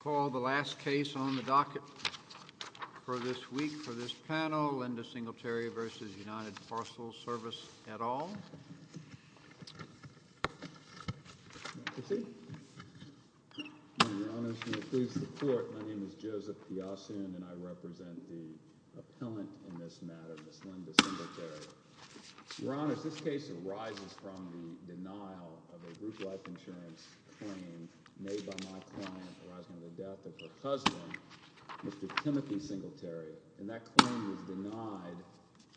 Call the last case on the docket for this week for this panel, Linda Singletary v. United Parcel Service et al. Your Honors, may it please the Court, my name is Joseph Piasson and I represent the appellant in this matter, Ms. Linda Singletary. Your Honors, this case arises from the denial of a group life insurance claim made by my client arising from the death of her husband, Mr. Timothy Singletary. And that claim was denied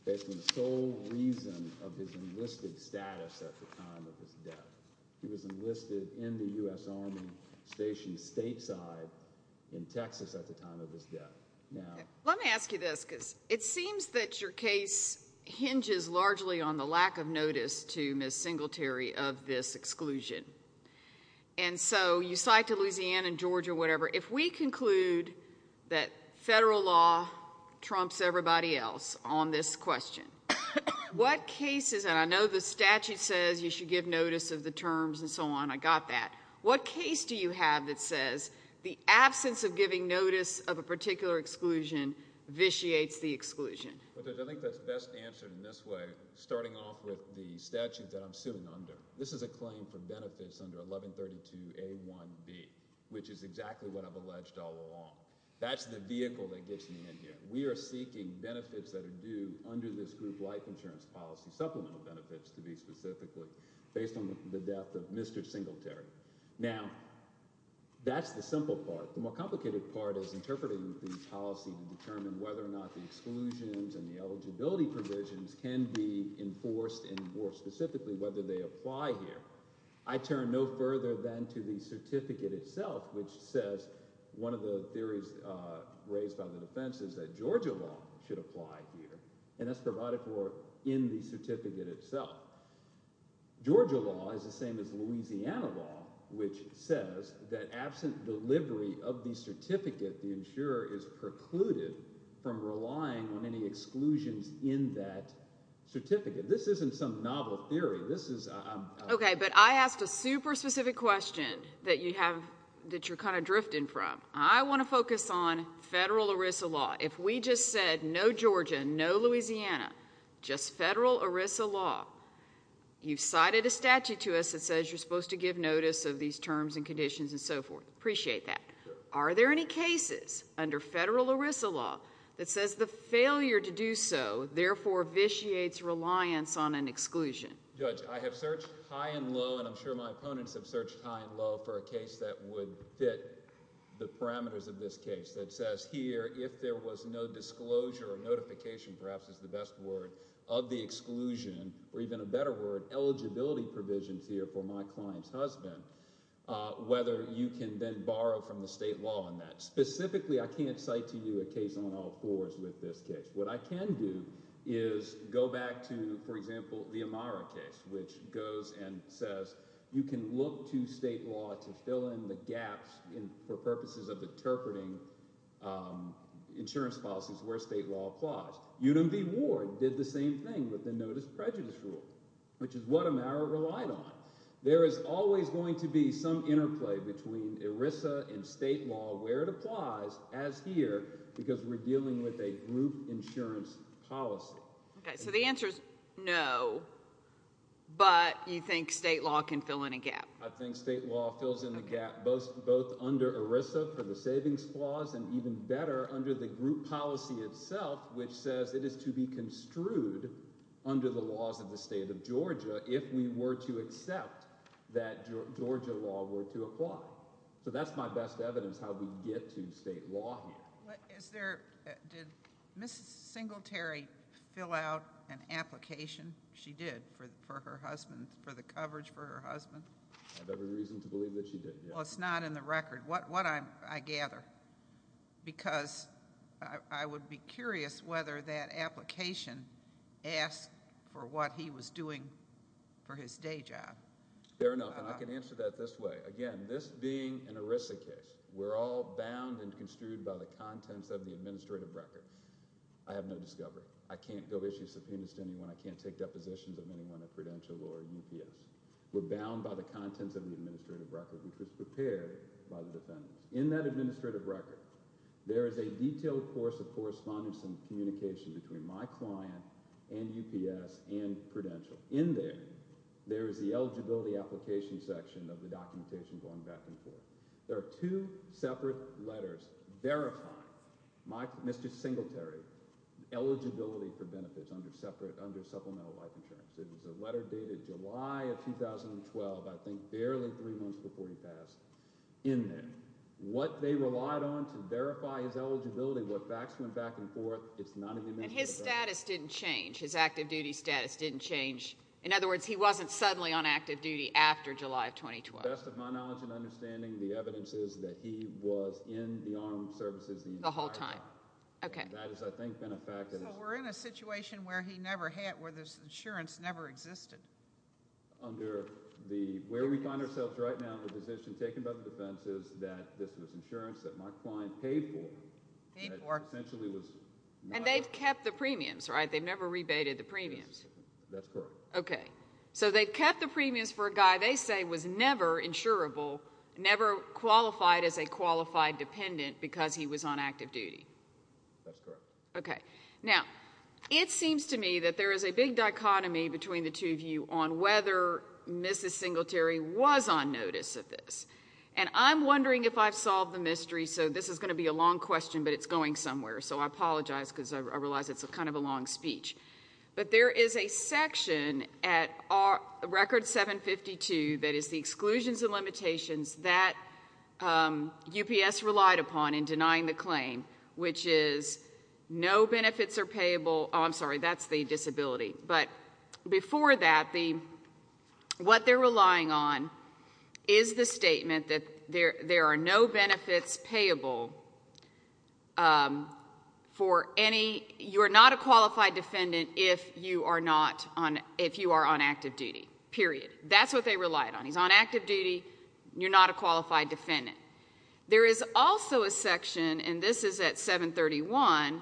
based on sole reason of his enlisted status at the time of his death. He was enlisted in the U.S. Army stationed stateside in Texas at the time of his death. Let me ask you this because it seems that your case hinges largely on the lack of notice to Ms. Singletary of this exclusion. And so you cite to Louisiana and Georgia, whatever, if we conclude that federal law trumps everybody else on this question, what cases, and I know the statute says you should give notice of the terms and so on, I got that. What case do you have that says the absence of giving notice of a particular exclusion vitiates the exclusion? I think that's best answered in this way, starting off with the statute that I'm suing under. This is a claim for benefits under 1132A1B, which is exactly what I've alleged all along. That's the vehicle that gets me in here. We are seeking benefits that are due under this group life insurance policy, supplemental benefits to be specifically based on the death of Mr. Singletary. Now, that's the simple part. The more complicated part is interpreting the policy to determine whether or not the exclusions and the eligibility provisions can be enforced and more specifically whether they apply here. I turn no further than to the certificate itself, which says one of the theories raised by the defense is that Georgia law should apply here, and that's provided for in the certificate itself. Georgia law is the same as Louisiana law, which says that absent delivery of the certificate, the insurer is precluded from relying on any exclusions in that certificate. This isn't some novel theory. Okay, but I asked a super specific question that you're kind of drifting from. I want to focus on federal ERISA law. If we just said no Georgia, no Louisiana, just federal ERISA law, you've cited a statute to us that says you're supposed to give notice of these terms and conditions and so forth. Appreciate that. Are there any cases under federal ERISA law that says the failure to do so therefore vitiates reliance on an exclusion? Judge, I have searched high and low, and I'm sure my opponents have searched high and low for a case that would fit the parameters of this case that says here if there was no disclosure or notification, perhaps is the best word, of the exclusion, or even a better word, eligibility provisions here for my client's husband, whether you can then borrow from the state law on that. Specifically, I can't cite to you a case on all fours with this case. What I can do is go back to, for example, the Amara case, which goes and says you can look to state law to fill in the gaps for purposes of interpreting insurance policies where state law applies. UDMV Ward did the same thing with the notice prejudice rule, which is what Amara relied on. There is always going to be some interplay between ERISA and state law where it applies, as here, because we're dealing with a group insurance policy. So the answer is no, but you think state law can fill in a gap? I think state law fills in the gap both under ERISA for the savings clause and, even better, under the group policy itself, which says it is to be construed under the laws of the state of Georgia if we were to accept that Georgia law were to apply. So that's my best evidence how we get to state law here. Did Mrs. Singletary fill out an application? She did, for her husband, for the coverage for her husband. I have every reason to believe that she did, yes. Well, it's not in the record. What, I gather, because I would be curious whether that application asked for what he was doing for his day job. Fair enough, and I can answer that this way. Again, this being an ERISA case, we're all bound and construed by the contents of the administrative record. I have no discovery. I can't go issue subpoenas to anyone. I can't take depositions of anyone at Prudential or UPS. We're bound by the contents of the administrative record, which was prepared by the defendants. In that administrative record, there is a detailed course of correspondence and communication between my client and UPS and Prudential. In there, there is the eligibility application section of the documentation going back and forth. There are two separate letters verifying Mr. Singletary's eligibility for benefits under supplemental life insurance. It was a letter dated July of 2012, I think barely three months before he passed, in there. What they relied on to verify his eligibility, what facts went back and forth, it's not in the administrative record. And his status didn't change. His active duty status didn't change. In other words, he wasn't suddenly on active duty after July of 2012. To the best of my knowledge and understanding, the evidence is that he was in the armed services the entire time. The whole time. Okay. And that has, I think, been a fact. So we're in a situation where he never had, where this insurance never existed. Under the, where we find ourselves right now, the decision taken by the defense is that this was insurance that my client paid for. Paid for. And they've kept the premiums, right? They've never rebated the premiums. That's correct. Okay. So they've kept the premiums for a guy they say was never insurable, never qualified as a qualified dependent because he was on active duty. That's correct. Okay. Now, it seems to me that there is a big dichotomy between the two of you on whether Mrs. Singletary was on notice of this. And I'm wondering if I've solved the mystery. So this is going to be a long question, but it's going somewhere. So I apologize because I realize it's kind of a long speech. But there is a section at Record 752 that is the exclusions and limitations that UPS relied upon in denying the claim, which is no benefits are payable, oh, I'm sorry, that's the disability. But before that, what they're relying on is the statement that there are no benefits payable for any, you're not a qualified defendant if you are on active duty, period. That's what they relied on. He's on active duty. You're not a qualified defendant. There is also a section, and this is at 731,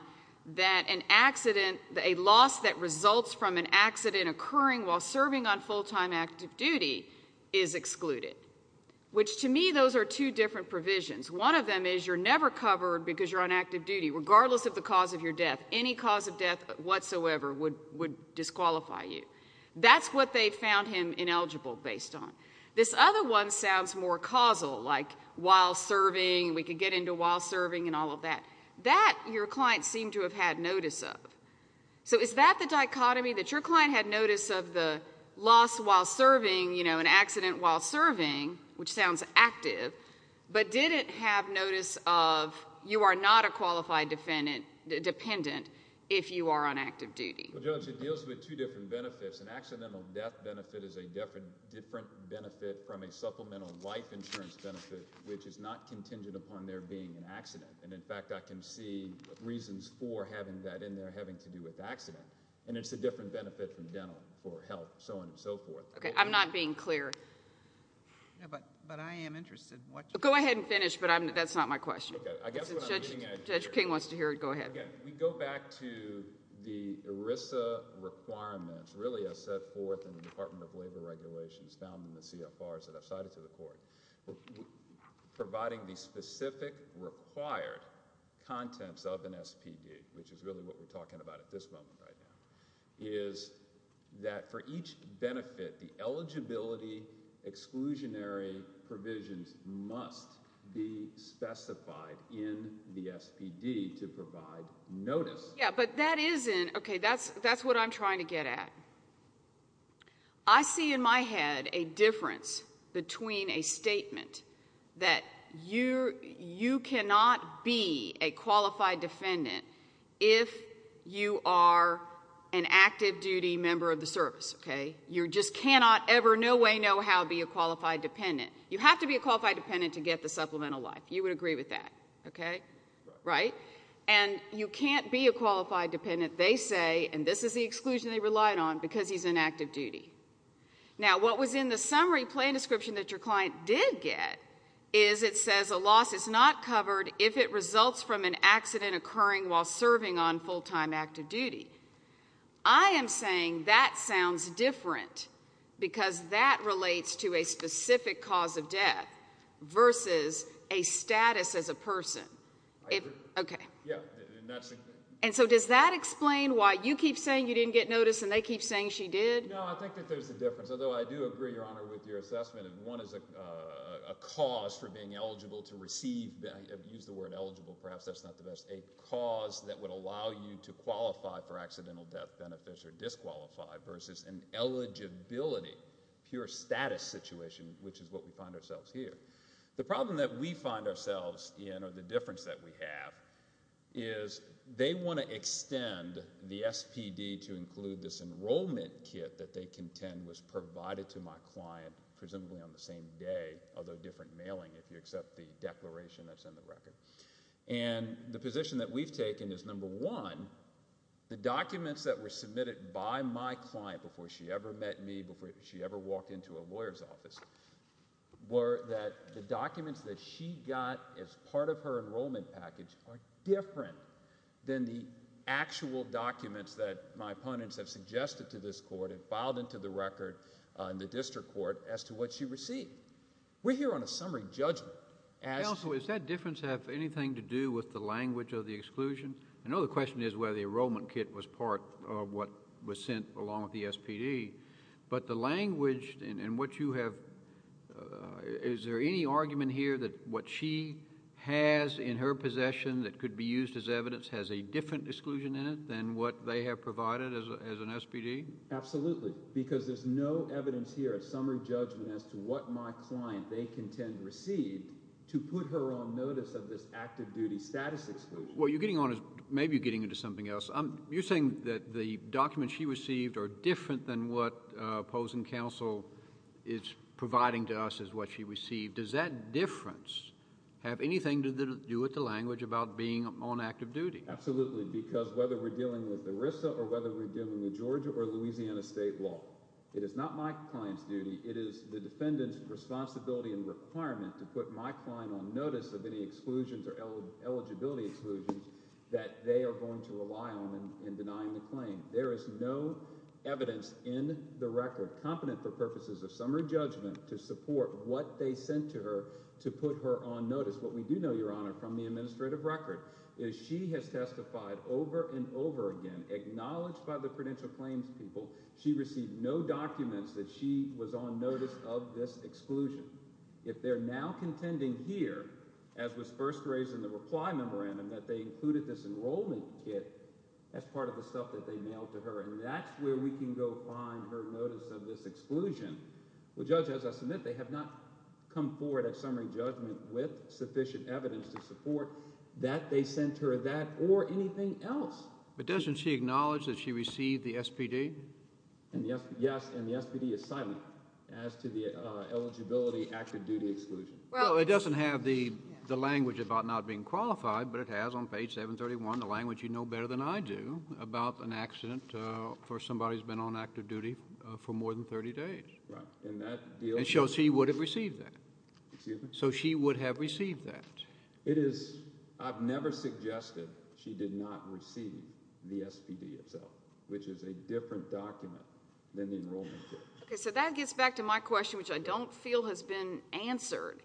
that an accident, a loss that results from an accident occurring while serving on full-time active duty is excluded, which to me those are two different provisions. One of them is you're never covered because you're on active duty, regardless of the cause of your death. Any cause of death whatsoever would disqualify you. That's what they found him ineligible based on. This other one sounds more causal, like while serving, we could get into while serving and all of that. That your client seemed to have had notice of. So is that the dichotomy, that your client had notice of the loss while serving, you know, an accident while serving, which sounds active, but did it have notice of you are not a qualified defendant if you are on active duty? Well, Judge, it deals with two different benefits. An accidental death benefit is a different benefit from a supplemental life insurance benefit, which is not contingent upon there being an accident. And, in fact, I can see reasons for having that in there having to do with the accident. And it's a different benefit from dental for health, so on and so forth. Okay. I'm not being clear. But I am interested in what you're saying. Go ahead and finish, but that's not my question. Okay. I guess what I'm getting at here. Judge King wants to hear it. Go ahead. Well, again, we go back to the ERISA requirements, really as set forth in the Department of Labor Regulations found in the CFRs that I've cited to the court. Providing the specific required contents of an SPD, which is really what we're talking about at this moment right now, is that for each benefit, the eligibility exclusionary provisions must be specified in the SPD to provide notice. Yeah, but that isn't okay. That's what I'm trying to get at. I see in my head a difference between a statement that you cannot be a qualified defendant if you are an active duty member of the service, okay? You just cannot ever, no way, no how be a qualified dependent. You have to be a qualified dependent to get the supplemental life. You would agree with that, okay? Right? And you can't be a qualified dependent, they say, and this is the exclusion they relied on, because he's in active duty. Now, what was in the summary plan description that your client did get is it says a loss is not covered if it results from an accident occurring while serving on full-time active duty. I am saying that sounds different because that relates to a specific cause of death versus a status as a person. I agree. Okay. Yeah. And so does that explain why you keep saying you didn't get notice and they keep saying she did? No, I think that there's a difference, although I do agree, Your Honor, with your assessment. One is a cause for being eligible to receive, use the word eligible, perhaps that's not the best, a cause that would allow you to qualify for accidental death benefits or disqualify versus an eligibility, pure status situation, which is what we find ourselves here. The problem that we find ourselves in or the difference that we have is they want to extend the SPD to include this enrollment kit that they contend was provided to my client presumably on the same day, although different mailing if you accept the declaration that's in the record. And the position that we've taken is, number one, the documents that were submitted by my client before she ever met me, before she ever walked into a lawyer's office, were that the documents that she got as part of her enrollment package are different than the actual documents that my opponents have suggested to this court and filed into the record in the district court as to what she received. We're here on a summary judgment. Counsel, does that difference have anything to do with the language of the exclusion? I know the question is whether the enrollment kit was part of what was sent along with the SPD, but the language and what you have, is there any argument here that what she has in her possession that could be used as evidence has a different exclusion in it than what they have provided as an SPD? Absolutely, because there's no evidence here, a summary judgment, as to what my client they contend received to put her on notice of this active duty status exclusion. What you're getting on is maybe you're getting into something else. You're saying that the documents she received are different than what opposing counsel is providing to us as what she received. Does that difference have anything to do with the language about being on active duty? Absolutely, because whether we're dealing with ERISA or whether we're dealing with Georgia or Louisiana state law, it is not my client's duty. It is the defendant's responsibility and requirement to put my client on notice of any exclusions or eligibility exclusions that they are going to rely on in denying the claim. There is no evidence in the record competent for purposes of summary judgment to support what they sent to her to put her on notice. What we do know, Your Honor, from the administrative record is she has testified over and over again. Acknowledged by the prudential claims people, she received no documents that she was on notice of this exclusion. If they're now contending here, as was first raised in the reply memorandum, that they included this enrollment kit as part of the stuff that they mailed to her, and that's where we can go find her notice of this exclusion. Well, Judge, as I submit, they have not come forward at summary judgment with sufficient evidence to support that they sent her that or anything else. But doesn't she acknowledge that she received the SPD? Yes, and the SPD is silent as to the eligibility active-duty exclusion. Well, it doesn't have the language about not being qualified, but it has on page 731, the language you know better than I do, about an accident for somebody who's been on active duty for more than 30 days. Right, and that deal— And shows she would have received that. Excuse me? So she would have received that. It is—I've never suggested she did not receive the SPD itself, which is a different document than the enrollment kit. Okay, so that gets back to my question, which I don't feel has been answered.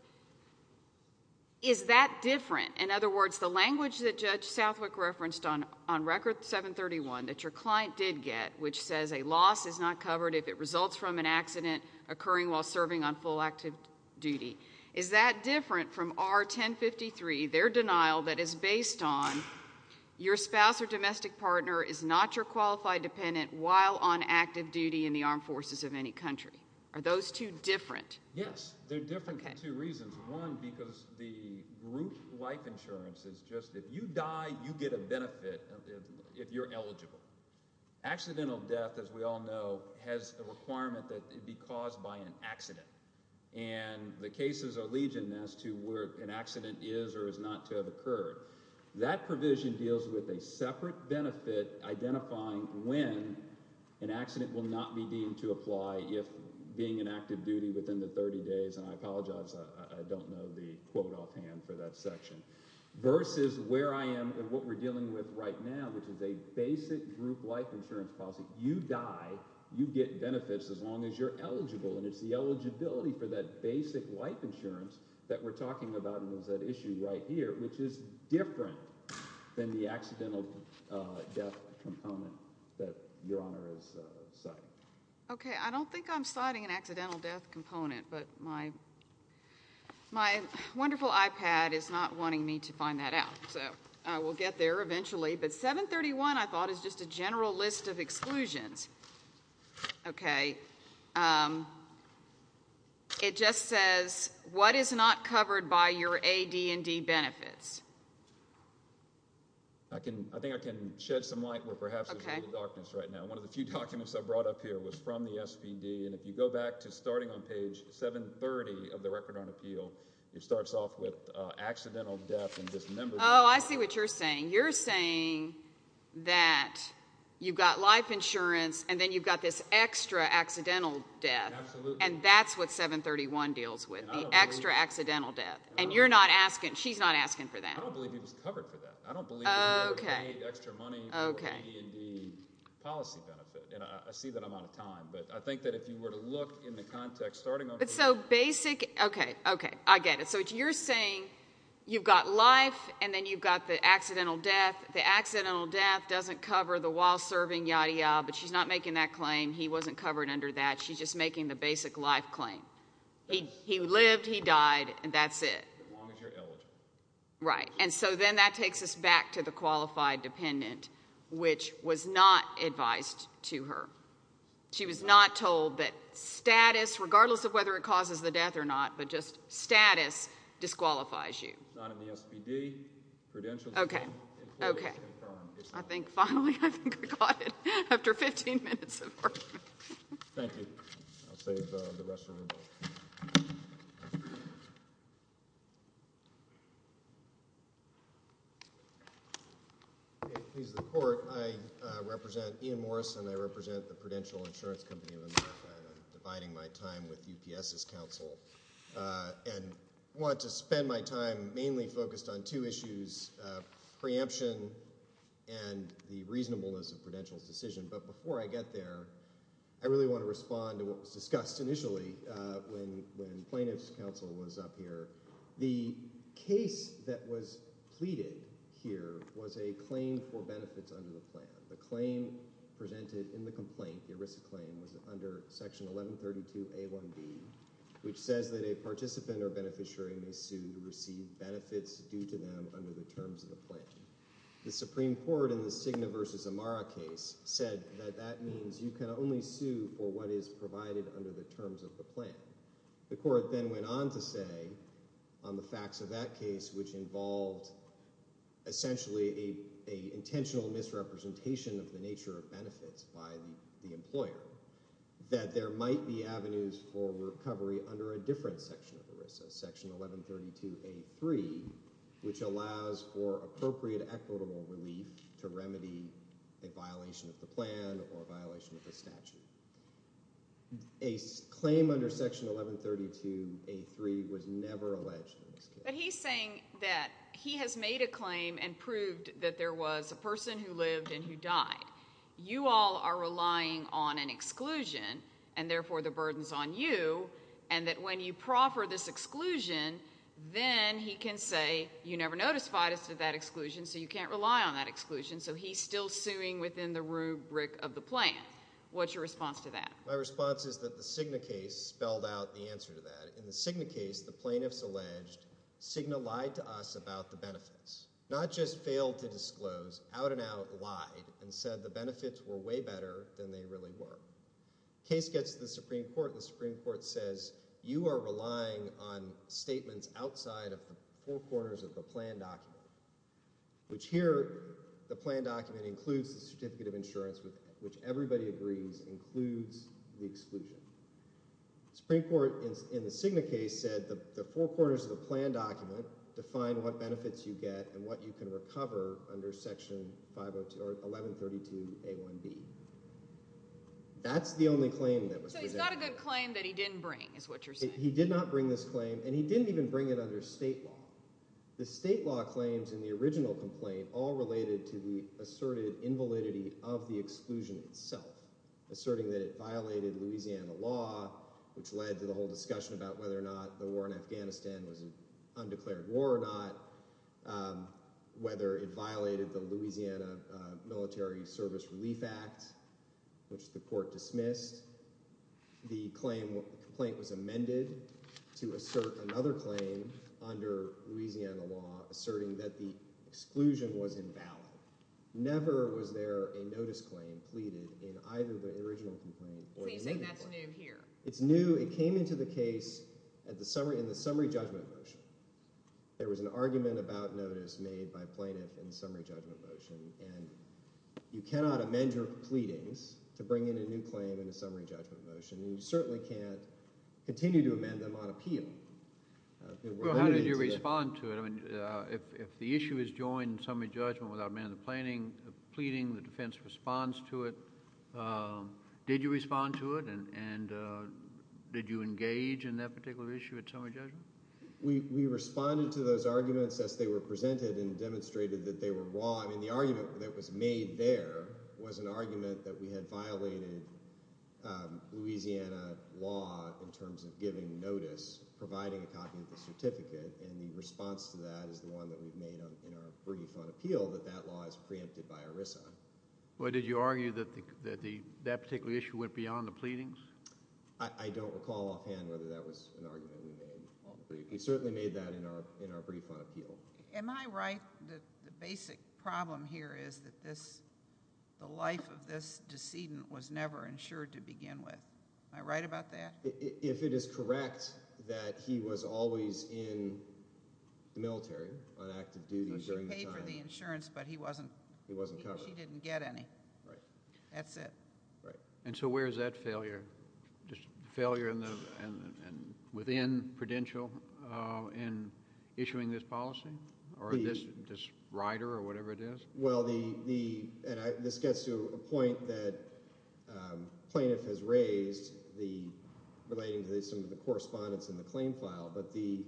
Is that different? In other words, the language that Judge Southwick referenced on Record 731 that your client did get, which says a loss is not covered if it results from an accident occurring while serving on full active duty, is that different from R1053, their denial that is based on your spouse or domestic partner is not your qualified dependent while on active duty in the armed forces of any country? Are those two different? Yes, they're different for two reasons. One, because the group life insurance is just if you die, you get a benefit if you're eligible. Accidental death, as we all know, has a requirement that it be caused by an accident. And the cases are legion as to where an accident is or is not to have occurred. That provision deals with a separate benefit identifying when an accident will not be deemed to apply if being in active duty within the 30 days. And I apologize, I don't know the quote offhand for that section. Versus where I am and what we're dealing with right now, which is a basic group life insurance policy. You die, you get benefits as long as you're eligible. And it's the eligibility for that basic life insurance that we're talking about in those issues right here, which is different than the accidental death component that Your Honor is citing. Okay, I don't think I'm citing an accidental death component, but my wonderful iPad is not wanting me to find that out. So we'll get there eventually. But 731, I thought, is just a general list of exclusions. Okay. It just says, what is not covered by your A, D, and D benefits? I think I can shed some light where perhaps there's a little darkness right now. One of the few documents I brought up here was from the SPD. And if you go back to starting on page 730 of the Record on Appeal, it starts off with accidental death. Oh, I see what you're saying. You're saying that you've got life insurance and then you've got this extra accidental death. And that's what 731 deals with, the extra accidental death. And you're not asking, she's not asking for that. I don't believe it was covered for that. I don't believe there were any extra money for the A, D, and D policy benefit. And I see that I'm out of time. But I think that if you were to look in the context starting on page 730. But so basic, okay, okay, I get it. So you're saying you've got life and then you've got the accidental death. The accidental death doesn't cover the while serving, yada, yada. But she's not making that claim. He wasn't covered under that. She's just making the basic life claim. He lived, he died, and that's it. As long as you're eligible. Right. And so then that takes us back to the qualified dependent, which was not advised to her. She was not told that status, regardless of whether it causes the death or not, but just status disqualifies you. It's not in the SBD credential. Okay, okay. I think finally, I think I caught it after 15 minutes of arguing. Thank you. I'll save the rest of it. Okay, please, the court. I represent Ian Morrison. I represent the Prudential Insurance Company of America. I'm dividing my time with UPS's counsel. And I want to spend my time mainly focused on two issues, preemption and the reasonableness of Prudential's decision. But before I get there, I really want to respond to what was discussed initially when plaintiff's counsel was up here. The case that was pleaded here was a claim for benefits under the plan. The claim presented in the complaint, the ERISA claim, was under Section 1132A1B, which says that a participant or beneficiary may sue to receive benefits due to them under the terms of the plan. The Supreme Court in the Cigna v. Amara case said that that means you can only sue for what is provided under the terms of the plan. The court then went on to say on the facts of that case, which involved essentially an intentional misrepresentation of the nature of benefits by the employer, that there might be avenues for recovery under a different section of ERISA, Section 1132A3, which allows for appropriate equitable relief to remedy a violation of the plan or a violation of the statute. A claim under Section 1132A3 was never alleged in this case. But he's saying that he has made a claim and proved that there was a person who lived and who died. You all are relying on an exclusion, and therefore the burden's on you, and that when you proffer this exclusion, then he can say you never notified us of that exclusion, so you can't rely on that exclusion, so he's still suing within the rubric of the plan. What's your response to that? My response is that the Cigna case spelled out the answer to that. In the Cigna case, the plaintiffs alleged Cigna lied to us about the benefits, not just failed to disclose. Out and out lied and said the benefits were way better than they really were. Case gets to the Supreme Court, and the Supreme Court says you are relying on statements outside of the four corners of the plan document, which here, the plan document includes the certificate of insurance, which everybody agrees includes the exclusion. Supreme Court, in the Cigna case, said the four corners of the plan document define what benefits you get and what you can recover under Section 1132A1B. That's the only claim that was presented. So he's got a good claim that he didn't bring, is what you're saying? He did not bring this claim, and he didn't even bring it under state law. The state law claims in the original complaint all related to the asserted invalidity of the exclusion itself, asserting that it violated Louisiana law, which led to the whole discussion about whether or not the war in Afghanistan was an undeclared war or not, whether it violated the Louisiana Military Service Relief Act, which the court dismissed. The complaint was amended to assert another claim under Louisiana law, asserting that the exclusion was invalid. Never was there a notice claim pleaded in either the original complaint or the new complaint. So you're saying that's new here? It's new. It came into the case in the summary judgment motion. There was an argument about notice made by plaintiffs in the summary judgment motion, and you cannot amend your pleadings to bring in a new claim in a summary judgment motion, and you certainly can't continue to amend them on appeal. Well, how did you respond to it? I mean, if the issue is joined in summary judgment without amendment of the pleading, the defense responds to it. Did you respond to it, and did you engage in that particular issue at summary judgment? We responded to those arguments as they were presented and demonstrated that they were wrong. I mean, the argument that was made there was an argument that we had violated Louisiana law in terms of giving notice, providing a copy of the certificate, and the response to that is the one that we've made in our brief on appeal, that that law is preempted by ERISA. Well, did you argue that that particular issue went beyond the pleadings? I don't recall offhand whether that was an argument we made on the brief. We certainly made that in our brief on appeal. Am I right that the basic problem here is that the life of this decedent was never insured to begin with? Am I right about that? If it is correct that he was always in the military on active duty during that time. She paid for the insurance, but he wasn't. He wasn't covered. She didn't get any. Right. That's it. Right. And so where is that failure? Failure within Prudential in issuing this policy or this rider or whatever it is? Well, this gets to a point that plaintiff has raised relating to some of the correspondence in the claim file, but the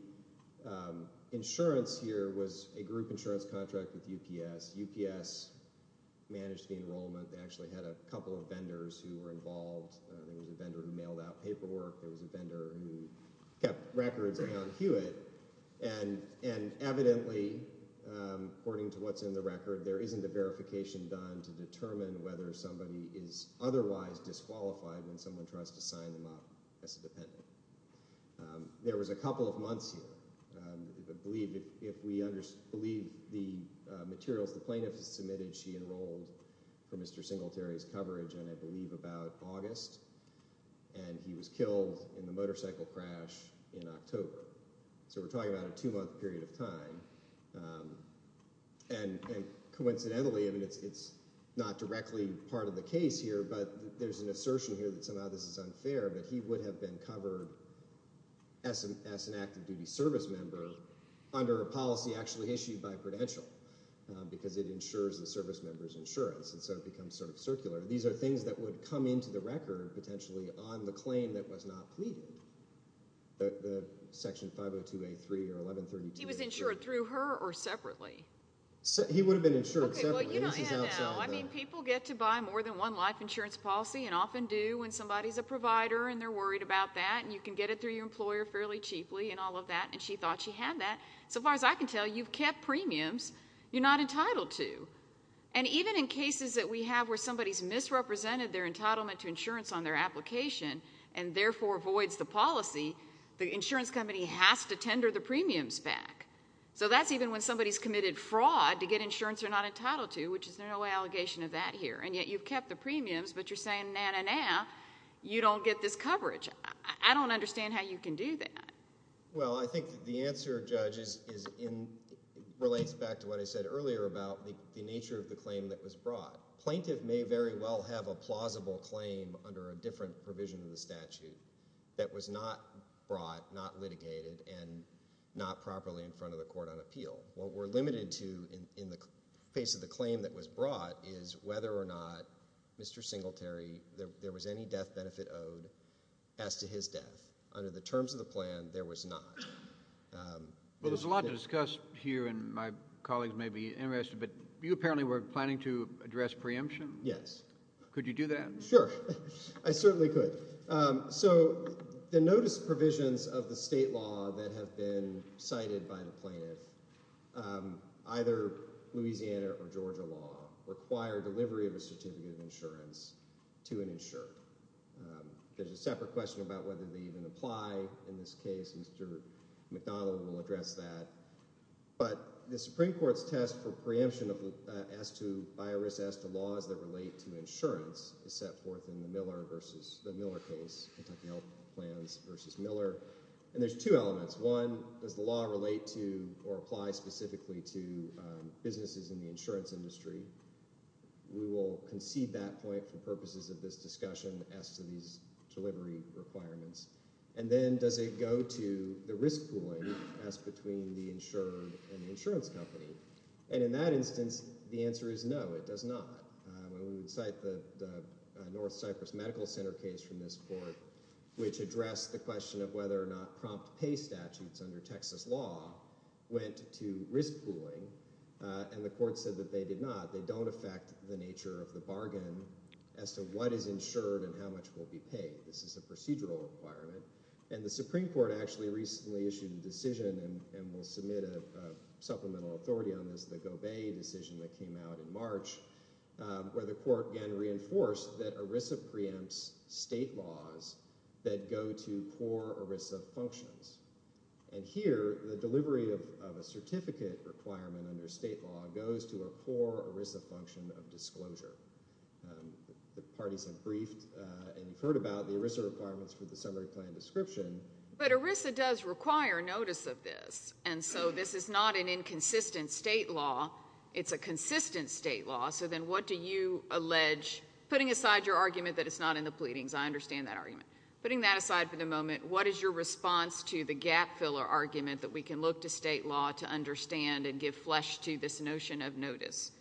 insurance here was a group insurance contract with UPS. UPS managed the enrollment. They actually had a couple of vendors who were involved. There was a vendor who mailed out paperwork. There was a vendor who kept records around Hewitt. And evidently, according to what's in the record, there isn't a verification done to determine whether somebody is otherwise disqualified when someone tries to sign them up as a dependent. There was a couple of months here. If we believe the materials the plaintiff submitted, she enrolled for Mr. Singletary's coverage, and I believe about August, and he was killed in the motorcycle crash in October. So we're talking about a two-month period of time. And coincidentally, I mean, it's not directly part of the case here, but there's an assertion here that somehow this is unfair, that he would have been covered as an active-duty service member under a policy actually issued by Prudential because it insures the service member's insurance, and so it becomes sort of circular. These are things that would come into the record potentially on the claim that was not pleaded, the Section 502A3 or 1132A3. He was insured through her or separately? He would have been insured separately. Okay, well, you don't have to know. I mean, people get to buy more than one life insurance policy and often do when somebody's a provider and they're worried about that, and you can get it through your employer fairly cheaply and all of that, and she thought she had that. So far as I can tell, you've kept premiums you're not entitled to. And even in cases that we have where somebody's misrepresented their entitlement to insurance on their application and therefore voids the policy, the insurance company has to tender the premiums back. So that's even when somebody's committed fraud to get insurance they're not entitled to, which is no allegation of that here. And yet you've kept the premiums, but you're saying, nah, nah, nah, you don't get this coverage. I don't understand how you can do that. Well, I think the answer, Judge, relates back to what I said earlier about the nature of the claim that was brought. Plaintiff may very well have a plausible claim under a different provision of the statute that was not brought, not litigated, and not properly in front of the court on appeal. What we're limited to in the case of the claim that was brought is whether or not Mr. Singletary, there was any death benefit owed as to his death. Under the terms of the plan, there was not. Well, there's a lot to discuss here, and my colleagues may be interested, but you apparently were planning to address preemption. Yes. Could you do that? Sure. I certainly could. So the notice provisions of the state law that have been cited by the plaintiff, either Louisiana or Georgia law, require delivery of a certificate of insurance to an insured. There's a separate question about whether they even apply in this case. Mr. McDonnell will address that. But the Supreme Court's test for preemption as to law as they relate to insurance is set forth in the Miller case, Kentucky Health Plans v. Miller. And there's two elements. One, does the law relate to or apply specifically to businesses in the insurance industry? We will concede that point for purposes of this discussion as to these delivery requirements. And then does it go to the risk pooling as between the insured and the insurance company? And in that instance, the answer is no, it does not. We would cite the North Cyprus Medical Center case from this court, which addressed the question of whether or not prompt pay statutes under Texas law went to risk pooling, and the court said that they did not. They don't affect the nature of the bargain as to what is insured and how much will be paid. This is a procedural requirement. And the Supreme Court actually recently issued a decision, and we'll submit a supplemental authority on this, the Gobey decision that came out in March, where the court again reinforced that ERISA preempts state laws that go to poor ERISA functions. And here, the delivery of a certificate requirement under state law goes to a poor ERISA function of disclosure. The parties have briefed and heard about the ERISA requirements for the summary plan description. But ERISA does require notice of this, and so this is not an inconsistent state law. It's a consistent state law. So then what do you allege? Putting aside your argument that it's not in the pleadings, I understand that argument. Putting that aside for the moment, what is your response to the gap filler argument that we can look to state law to understand and give flesh to this notion of notice?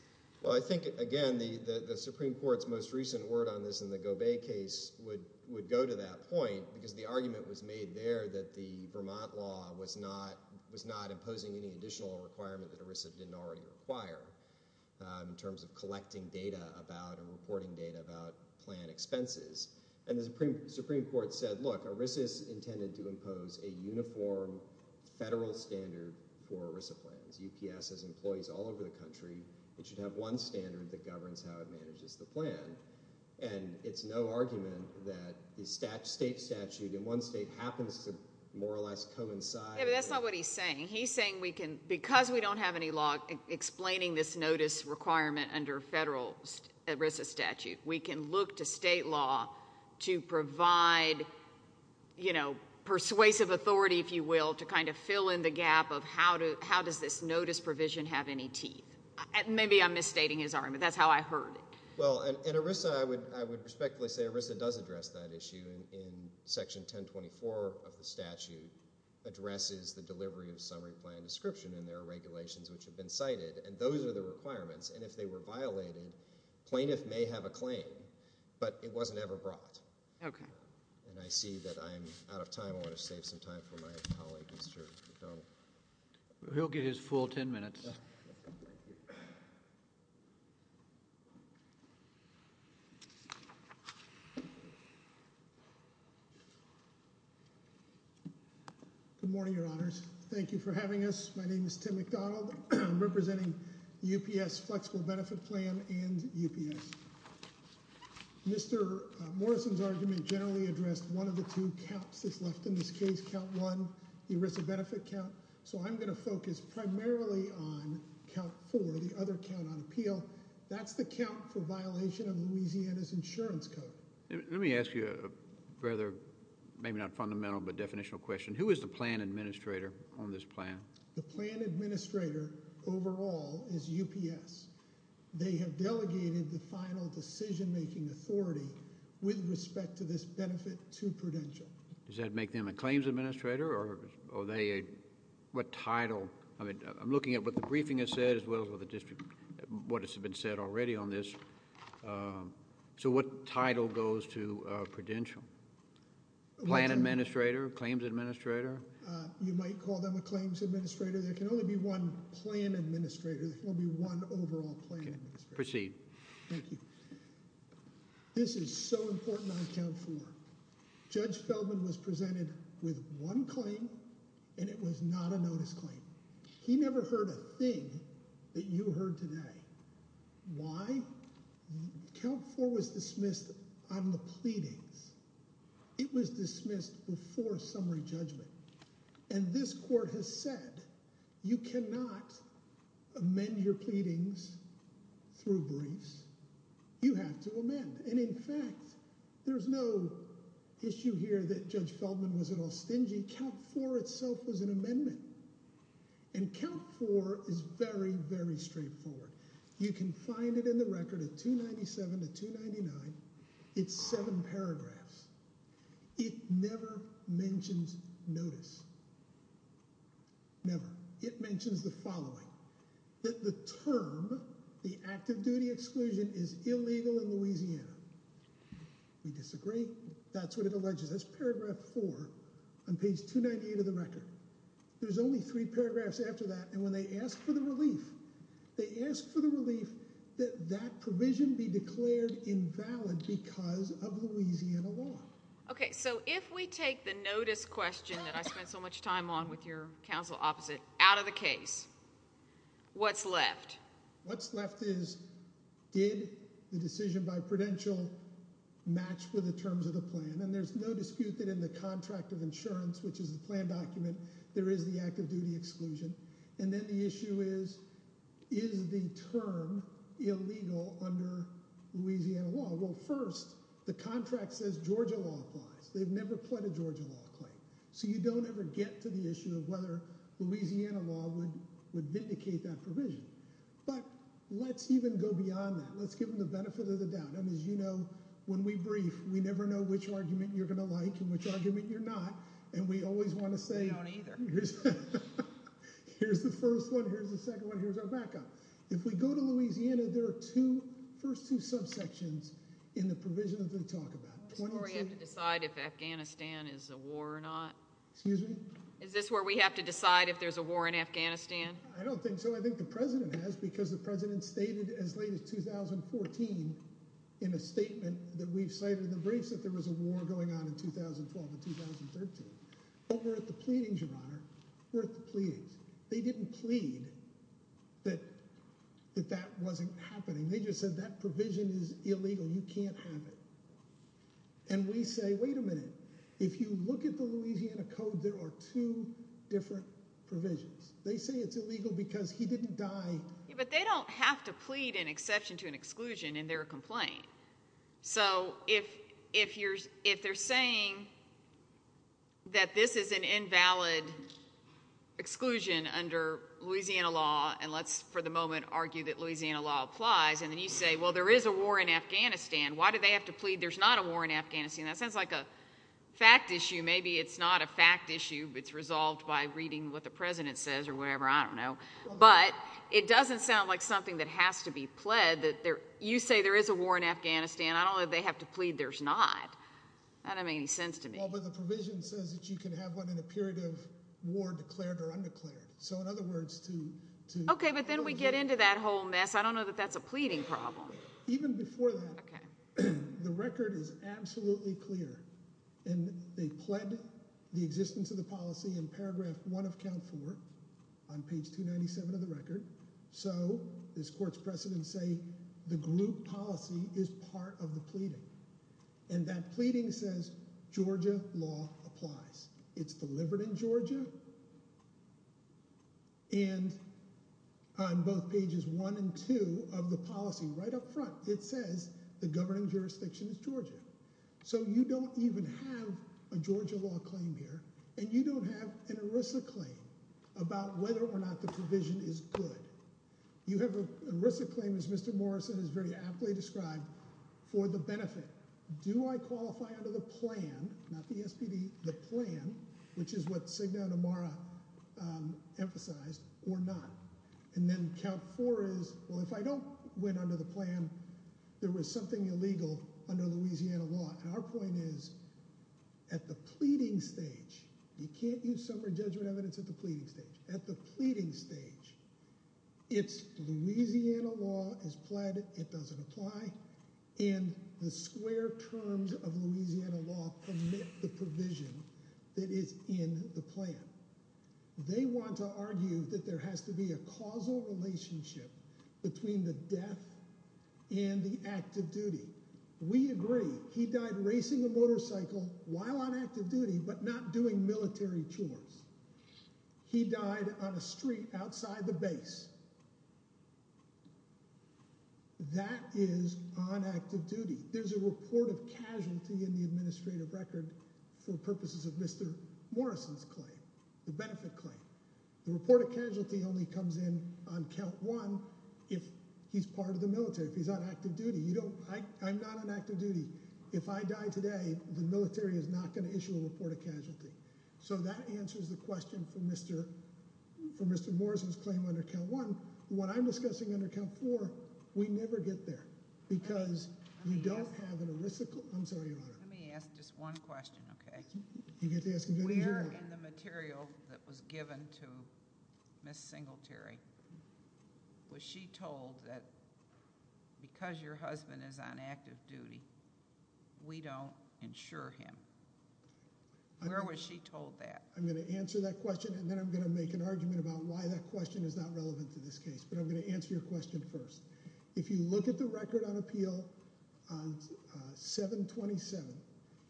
Well, I think, again, the Supreme Court's most recent word on this in the Gobey case would go to that point because the argument was made there that the Vermont law was not imposing any additional requirement that ERISA didn't already require in terms of collecting data about or reporting data about plan expenses. And the Supreme Court said, look, ERISA is intended to impose a uniform federal standard for ERISA plans. UPS has employees all over the country. It should have one standard that governs how it manages the plan. And it's no argument that the state statute in one state happens to more or less coincide. Yeah, but that's not what he's saying. He's saying because we don't have any law explaining this notice requirement under federal ERISA statute, we can look to state law to provide persuasive authority, if you will, to kind of fill in the gap of how does this notice provision have any teeth. Maybe I'm misstating his argument. That's how I heard it. Well, and ERISA, I would respectfully say ERISA does address that issue in Section 1024 of the statute, addresses the delivery of summary plan description in their regulations which have been cited, and those are the requirements. And if they were violated, plaintiff may have a claim, but it wasn't ever brought. Okay. And I see that I'm out of time. I want to save some time for my colleague, Mr. McDonald. He'll give his full ten minutes. Good morning, Your Honors. Thank you for having us. My name is Tim McDonald. I'm representing UPS Flexible Benefit Plan and UPS. Mr. Morrison's argument generally addressed one of the two counts that's left in this case, Count 1, the ERISA benefit count. So I'm going to focus primarily on Count 4, the other count on appeal. That's the count for violation of Louisiana's insurance code. Let me ask you a rather maybe not fundamental but definitional question. Who is the plan administrator on this plan? The plan administrator overall is UPS. They have delegated the final decision-making authority with respect to this benefit to Prudential. Does that make them a claims administrator or are they a title? I'm looking at what the briefing has said as well as what has been said already on this. So what title goes to Prudential? Plan administrator, claims administrator? You might call them a claims administrator. There can only be one plan administrator. There can only be one overall plan administrator. Proceed. Thank you. This is so important on Count 4. Judge Feldman was presented with one claim and it was not a notice claim. He never heard a thing that you heard today. Why? Count 4 was dismissed on the pleadings. It was dismissed before summary judgment. And this court has said you cannot amend your pleadings through briefs. You have to amend. And in fact, there's no issue here that Judge Feldman was at all stingy. Count 4 itself was an amendment. And Count 4 is very, very straightforward. You can find it in the record at 297 to 299. It's seven paragraphs. It never mentions notice. Never. It mentions the following. That the term, the active duty exclusion, is illegal in Louisiana. We disagree. That's what it alleges. That's paragraph 4 on page 298 of the record. There's only three paragraphs after that, and when they ask for the relief, they ask for the relief that that provision be declared invalid because of Louisiana law. Okay, so if we take the notice question that I spent so much time on with your counsel opposite out of the case, what's left? What's left is did the decision by Prudential match with the terms of the plan? And there's no dispute that in the contract of insurance, which is the plan document, there is the active duty exclusion. And then the issue is, is the term illegal under Louisiana law? Well, first, the contract says Georgia law applies. They've never pled a Georgia law claim. So you don't ever get to the issue of whether Louisiana law would vindicate that provision. But let's even go beyond that. Let's give them the benefit of the doubt. I mean, as you know, when we brief, we never know which argument you're going to like and which argument you're not. And we always want to say. We don't either. Here's the first one. Here's the second one. Here's our backup. If we go to Louisiana, there are two first two subsections in the provision that they talk about. We have to decide if Afghanistan is a war or not. Excuse me. Is this where we have to decide if there's a war in Afghanistan? I don't think so. I think the president has because the president stated as late as 2014 in a statement that we've cited in the briefs that there was a war going on in 2012 and 2013. But we're at the pleadings, Your Honor. We're at the pleadings. They didn't plead that that wasn't happening. They just said that provision is illegal. You can't have it. And we say, wait a minute. If you look at the Louisiana Code, there are two different provisions. They say it's illegal because he didn't die. But they don't have to plead an exception to an exclusion in their complaint. So if they're saying that this is an invalid exclusion under Louisiana law, and let's for the moment argue that Louisiana law applies, and then you say, well, there is a war in Afghanistan. Why do they have to plead there's not a war in Afghanistan? That sounds like a fact issue. Maybe it's not a fact issue. It's resolved by reading what the president says or whatever. I don't know. But it doesn't sound like something that has to be pled. You say there is a war in Afghanistan. I don't know that they have to plead there's not. That doesn't make any sense to me. Well, but the provision says that you can have one in a period of war declared or undeclared. So in other words, to— Okay, but then we get into that whole mess. I don't know that that's a pleading problem. Even before that, the record is absolutely clear. And they pled the existence of the policy in paragraph one of count four on page 297 of the record. So this court's precedent say the group policy is part of the pleading. And that pleading says Georgia law applies. It's delivered in Georgia. And on both pages one and two of the policy, right up front, it says the governing jurisdiction is Georgia. So you don't even have a Georgia law claim here. And you don't have an ERISA claim about whether or not the provision is good. You have an ERISA claim, as Mr. Morrison has very aptly described, for the benefit. Do I qualify under the plan, not the SPD, the plan, which is what Signa and Amara emphasized, or not? And then count four is, well, if I don't win under the plan, there was something illegal under Louisiana law. And our point is at the pleading stage, you can't use summary judgment evidence at the pleading stage. At the pleading stage, it's Louisiana law is pled. It doesn't apply. And the square terms of Louisiana law permit the provision that is in the plan. They want to argue that there has to be a causal relationship between the death and the active duty. We agree he died racing a motorcycle while on active duty but not doing military chores. He died on a street outside the base. That is on active duty. There's a report of casualty in the administrative record for purposes of Mr. Morrison's claim, the benefit claim. The report of casualty only comes in on count one if he's part of the military, if he's on active duty. I'm not on active duty. If I die today, the military is not going to issue a report of casualty. So that answers the question for Mr. Morrison's claim under count one. What I'm discussing under count four, we never get there. Because you don't have an aristocrat. I'm sorry, Your Honor. Let me ask just one question, okay? You get to ask as many as you want. Where in the material that was given to Ms. Singletary was she told that because your husband is on active duty, we don't insure him? Where was she told that? I'm going to answer that question, and then I'm going to make an argument about why that question is not relevant to this case. But I'm going to answer your question first. If you look at the record on appeal, 727,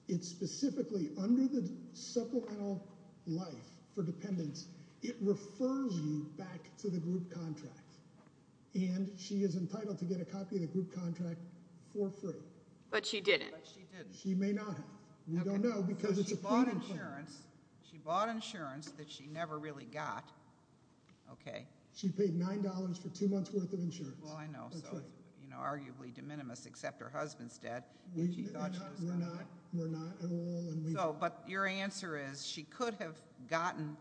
it specifically, under the supplemental life for dependents, it refers you back to the group contract. And she is entitled to get a copy of the group contract for free. But she didn't. She may not have. We don't know, because it's a proven claim. She bought insurance that she never really got, okay? She paid $9 for two months' worth of insurance. Well, I know. So it's arguably de minimis, except her husband's dead. We're not at all. But your answer is she could have gotten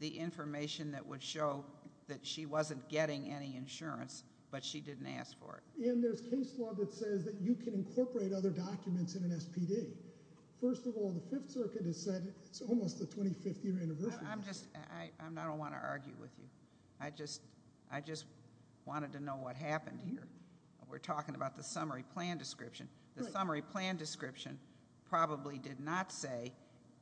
the information that would show that she wasn't getting any insurance, but she didn't ask for it. And there's case law that says that you can incorporate other documents in an SPD. First of all, the Fifth Circuit has said it's almost the 25th year anniversary. I don't want to argue with you. I just wanted to know what happened here. We're talking about the summary plan description. The summary plan description probably did not say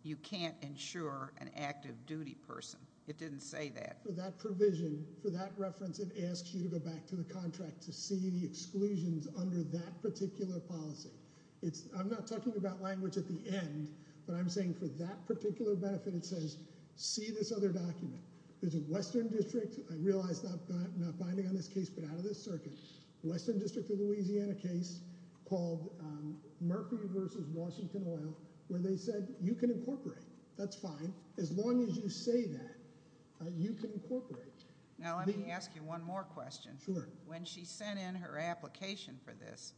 you can't insure an active duty person. It didn't say that. For that provision, for that reference, it asks you to go back to the contract to see the exclusions under that particular policy. I'm not talking about language at the end, but I'm saying for that particular benefit, it says see this other document. There's a western district. I realize I'm not binding on this case, but out of this circuit, western district of Louisiana case called Murphy v. Washington Oil, where they said you can incorporate. That's fine. As long as you say that, you can incorporate. Now let me ask you one more question. Sure. When she sent in her application for this,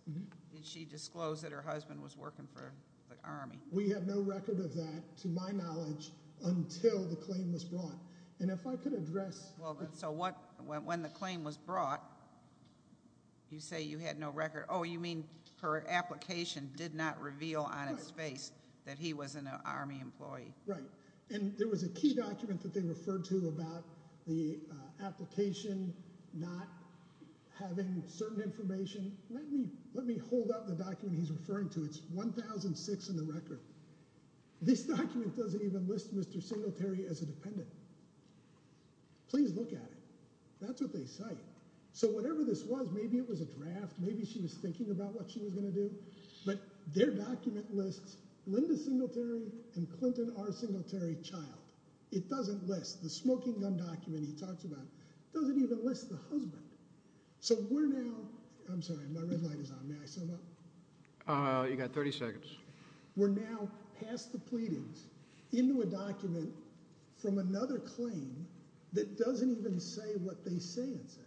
did she disclose that her husband was working for the Army? We have no record of that, to my knowledge, until the claim was brought. And if I could address So when the claim was brought, you say you had no record. Oh, you mean her application did not reveal on its face that he was an Army employee. Right, and there was a key document that they referred to about the application not having certain information. Let me hold up the document he's referring to. It's 1006 in the record. This document doesn't even list Mr. Singletary as a dependent. Please look at it. That's what they cite. So whatever this was, maybe it was a draft. Maybe she was thinking about what she was going to do. But their document lists Linda Singletary and Clinton R. Singletary, child. It doesn't list. The smoking gun document he talks about doesn't even list the husband. So we're now I'm sorry, my red light is on. May I sum up? You got 30 seconds. We're now past the pleadings into a document from another claim that doesn't even say what they say it says.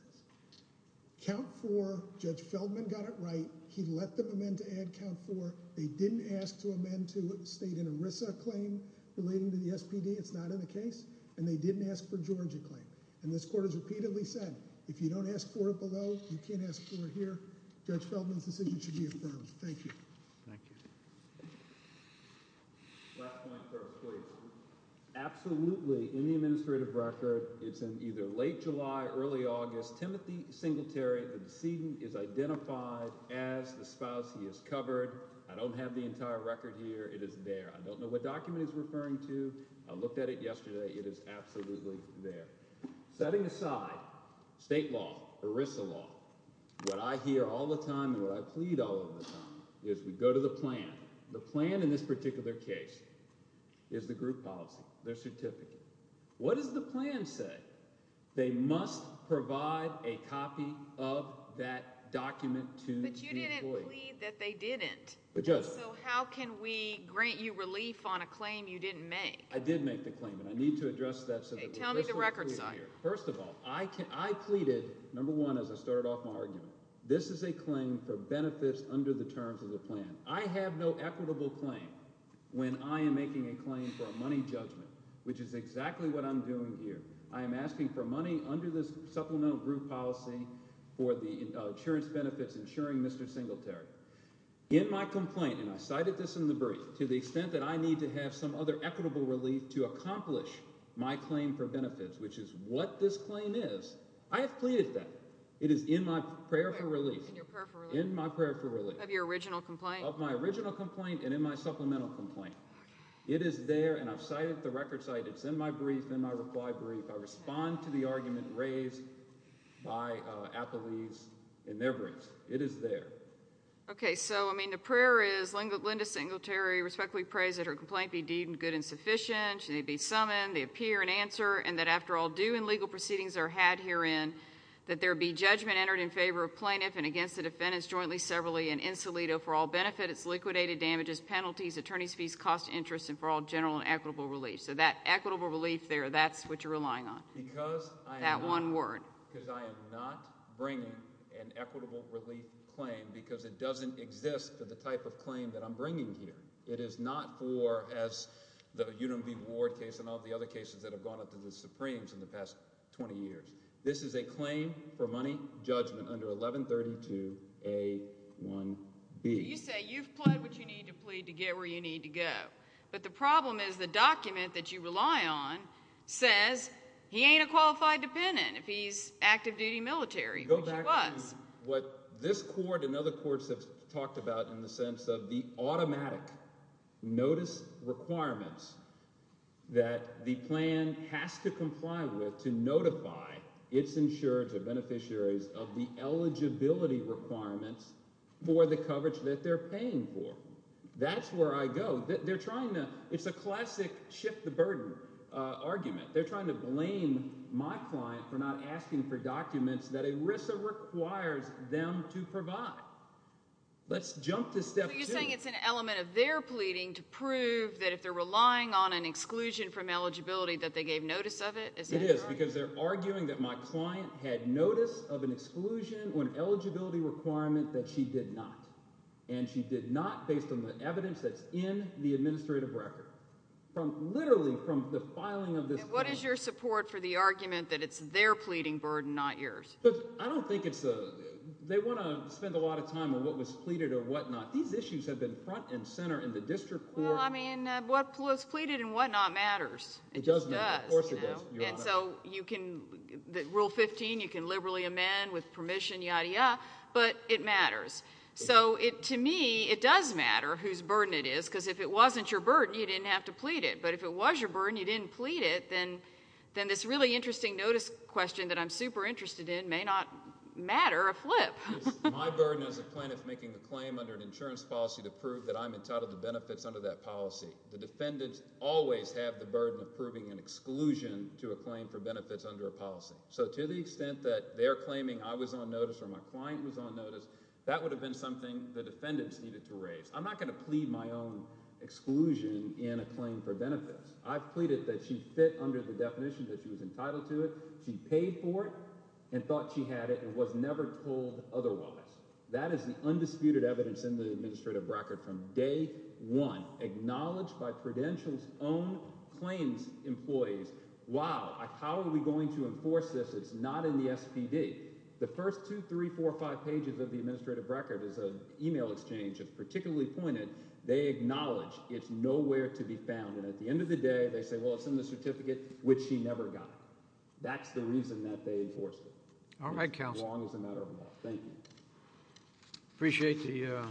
Count four, Judge Feldman got it right. He let them amend to add count four. They didn't ask to amend to state an ERISA claim relating to the SPD. It's not in the case. And they didn't ask for Georgia claim. And this court has repeatedly said, if you don't ask for it below, you can't ask for it here. Judge Feldman's decision should be affirmed. Thank you. Thank you. Last point first, please. Absolutely. In the administrative record, it's in either late July, early August. Timothy Singletary. The decedent is identified as the spouse. He is covered. I don't have the entire record here. It is there. I don't know what document is referring to. I looked at it yesterday. It is absolutely there. Setting aside state law, ERISA law, what I hear all the time and what I plead all of the time is we go to the plan. The plan in this particular case is the group policy, their certificate. What does the plan say? They must provide a copy of that document to the employee. But you didn't plead that they didn't. So how can we grant you relief on a claim you didn't make? I did make the claim, and I need to address that. Tell me the record side. First of all, I pleaded, number one, as I started off my argument, this is a claim for benefits under the terms of the plan. I have no equitable claim when I am making a claim for a money judgment, which is exactly what I'm doing here. I am asking for money under this supplemental group policy for the insurance benefits insuring Mr. Singletary. In my complaint, and I cited this in the brief, to the extent that I need to have some other equitable relief to accomplish my claim for benefits, which is what this claim is, I have pleaded that. It is in my prayer for relief. In your prayer for relief? In my prayer for relief. Of your original complaint? Of my original complaint and in my supplemental complaint. It is there, and I've cited the record side. It's in my brief, in my reply brief. I respond to the argument raised by Applebee's in their briefs. It is there. Okay, so, I mean, the prayer is Linda Singletary respectfully prays that her complaint be deemed good and sufficient, she may be summoned, they appear and answer, and that after all due and legal proceedings are had herein, that there be judgment entered in favor of plaintiff and against the defendants jointly, severally, and in solito for all benefits, liquidated damages, penalties, attorney's fees, cost of interest, and for all general and equitable relief. So that equitable relief there, that's what you're relying on. Because I am not. That one word. Because I am not bringing an equitable relief claim because it doesn't exist for the type of claim that I'm bringing here. It is not for, as the Unum v. Ward case and all the other cases that have gone up to the Supremes in the past 20 years. This is a claim for money judgment under 1132A1B. You say you've pled what you need to plead to get where you need to go. But the problem is the document that you rely on says he ain't a qualified dependent if he's active-duty military, which he was. What this court and other courts have talked about in the sense of the automatic notice requirements that the plan has to comply with to notify its insurers or beneficiaries of the eligibility requirements for the coverage that they're paying for. That's where I go. They're trying to – it's a classic shift the burden argument. They're trying to blame my client for not asking for documents that ERISA requires them to provide. Let's jump to step two. So you're saying it's an element of their pleading to prove that if they're relying on an exclusion from eligibility that they gave notice of it? It is because they're arguing that my client had notice of an exclusion or an eligibility requirement that she did not. And she did not based on the evidence that's in the administrative record. Literally from the filing of this document. And what is your support for the argument that it's their pleading burden, not yours? I don't think it's – they want to spend a lot of time on what was pleaded or whatnot. These issues have been front and center in the district court. Well, I mean what was pleaded and whatnot matters. It just does. Of course it does, Your Honor. And so you can – Rule 15, you can liberally amend with permission, yada, yada, but it matters. So to me, it does matter whose burden it is because if it wasn't your burden, you didn't have to plead it. But if it was your burden, you didn't plead it, then this really interesting notice question that I'm super interested in may not matter a flip. My burden as a plaintiff making a claim under an insurance policy to prove that I'm entitled to benefits under that policy. The defendants always have the burden of proving an exclusion to a claim for benefits under a policy. So to the extent that they're claiming I was on notice or my client was on notice, that would have been something the defendants needed to raise. I'm not going to plead my own exclusion in a claim for benefits. I've pleaded that she fit under the definition that she was entitled to it. She paid for it and thought she had it and was never told otherwise. That is the undisputed evidence in the administrative record from day one, acknowledged by Prudential's own claims employees. Wow, how are we going to enforce this? It's not in the SPD. The first two, three, four, five pages of the administrative record is an email exchange that's particularly pointed. They acknowledge it's nowhere to be found, and at the end of the day, they say, well, it's in the certificate, which she never got. That's the reason that they enforced it. All right, counsel. Appreciate the.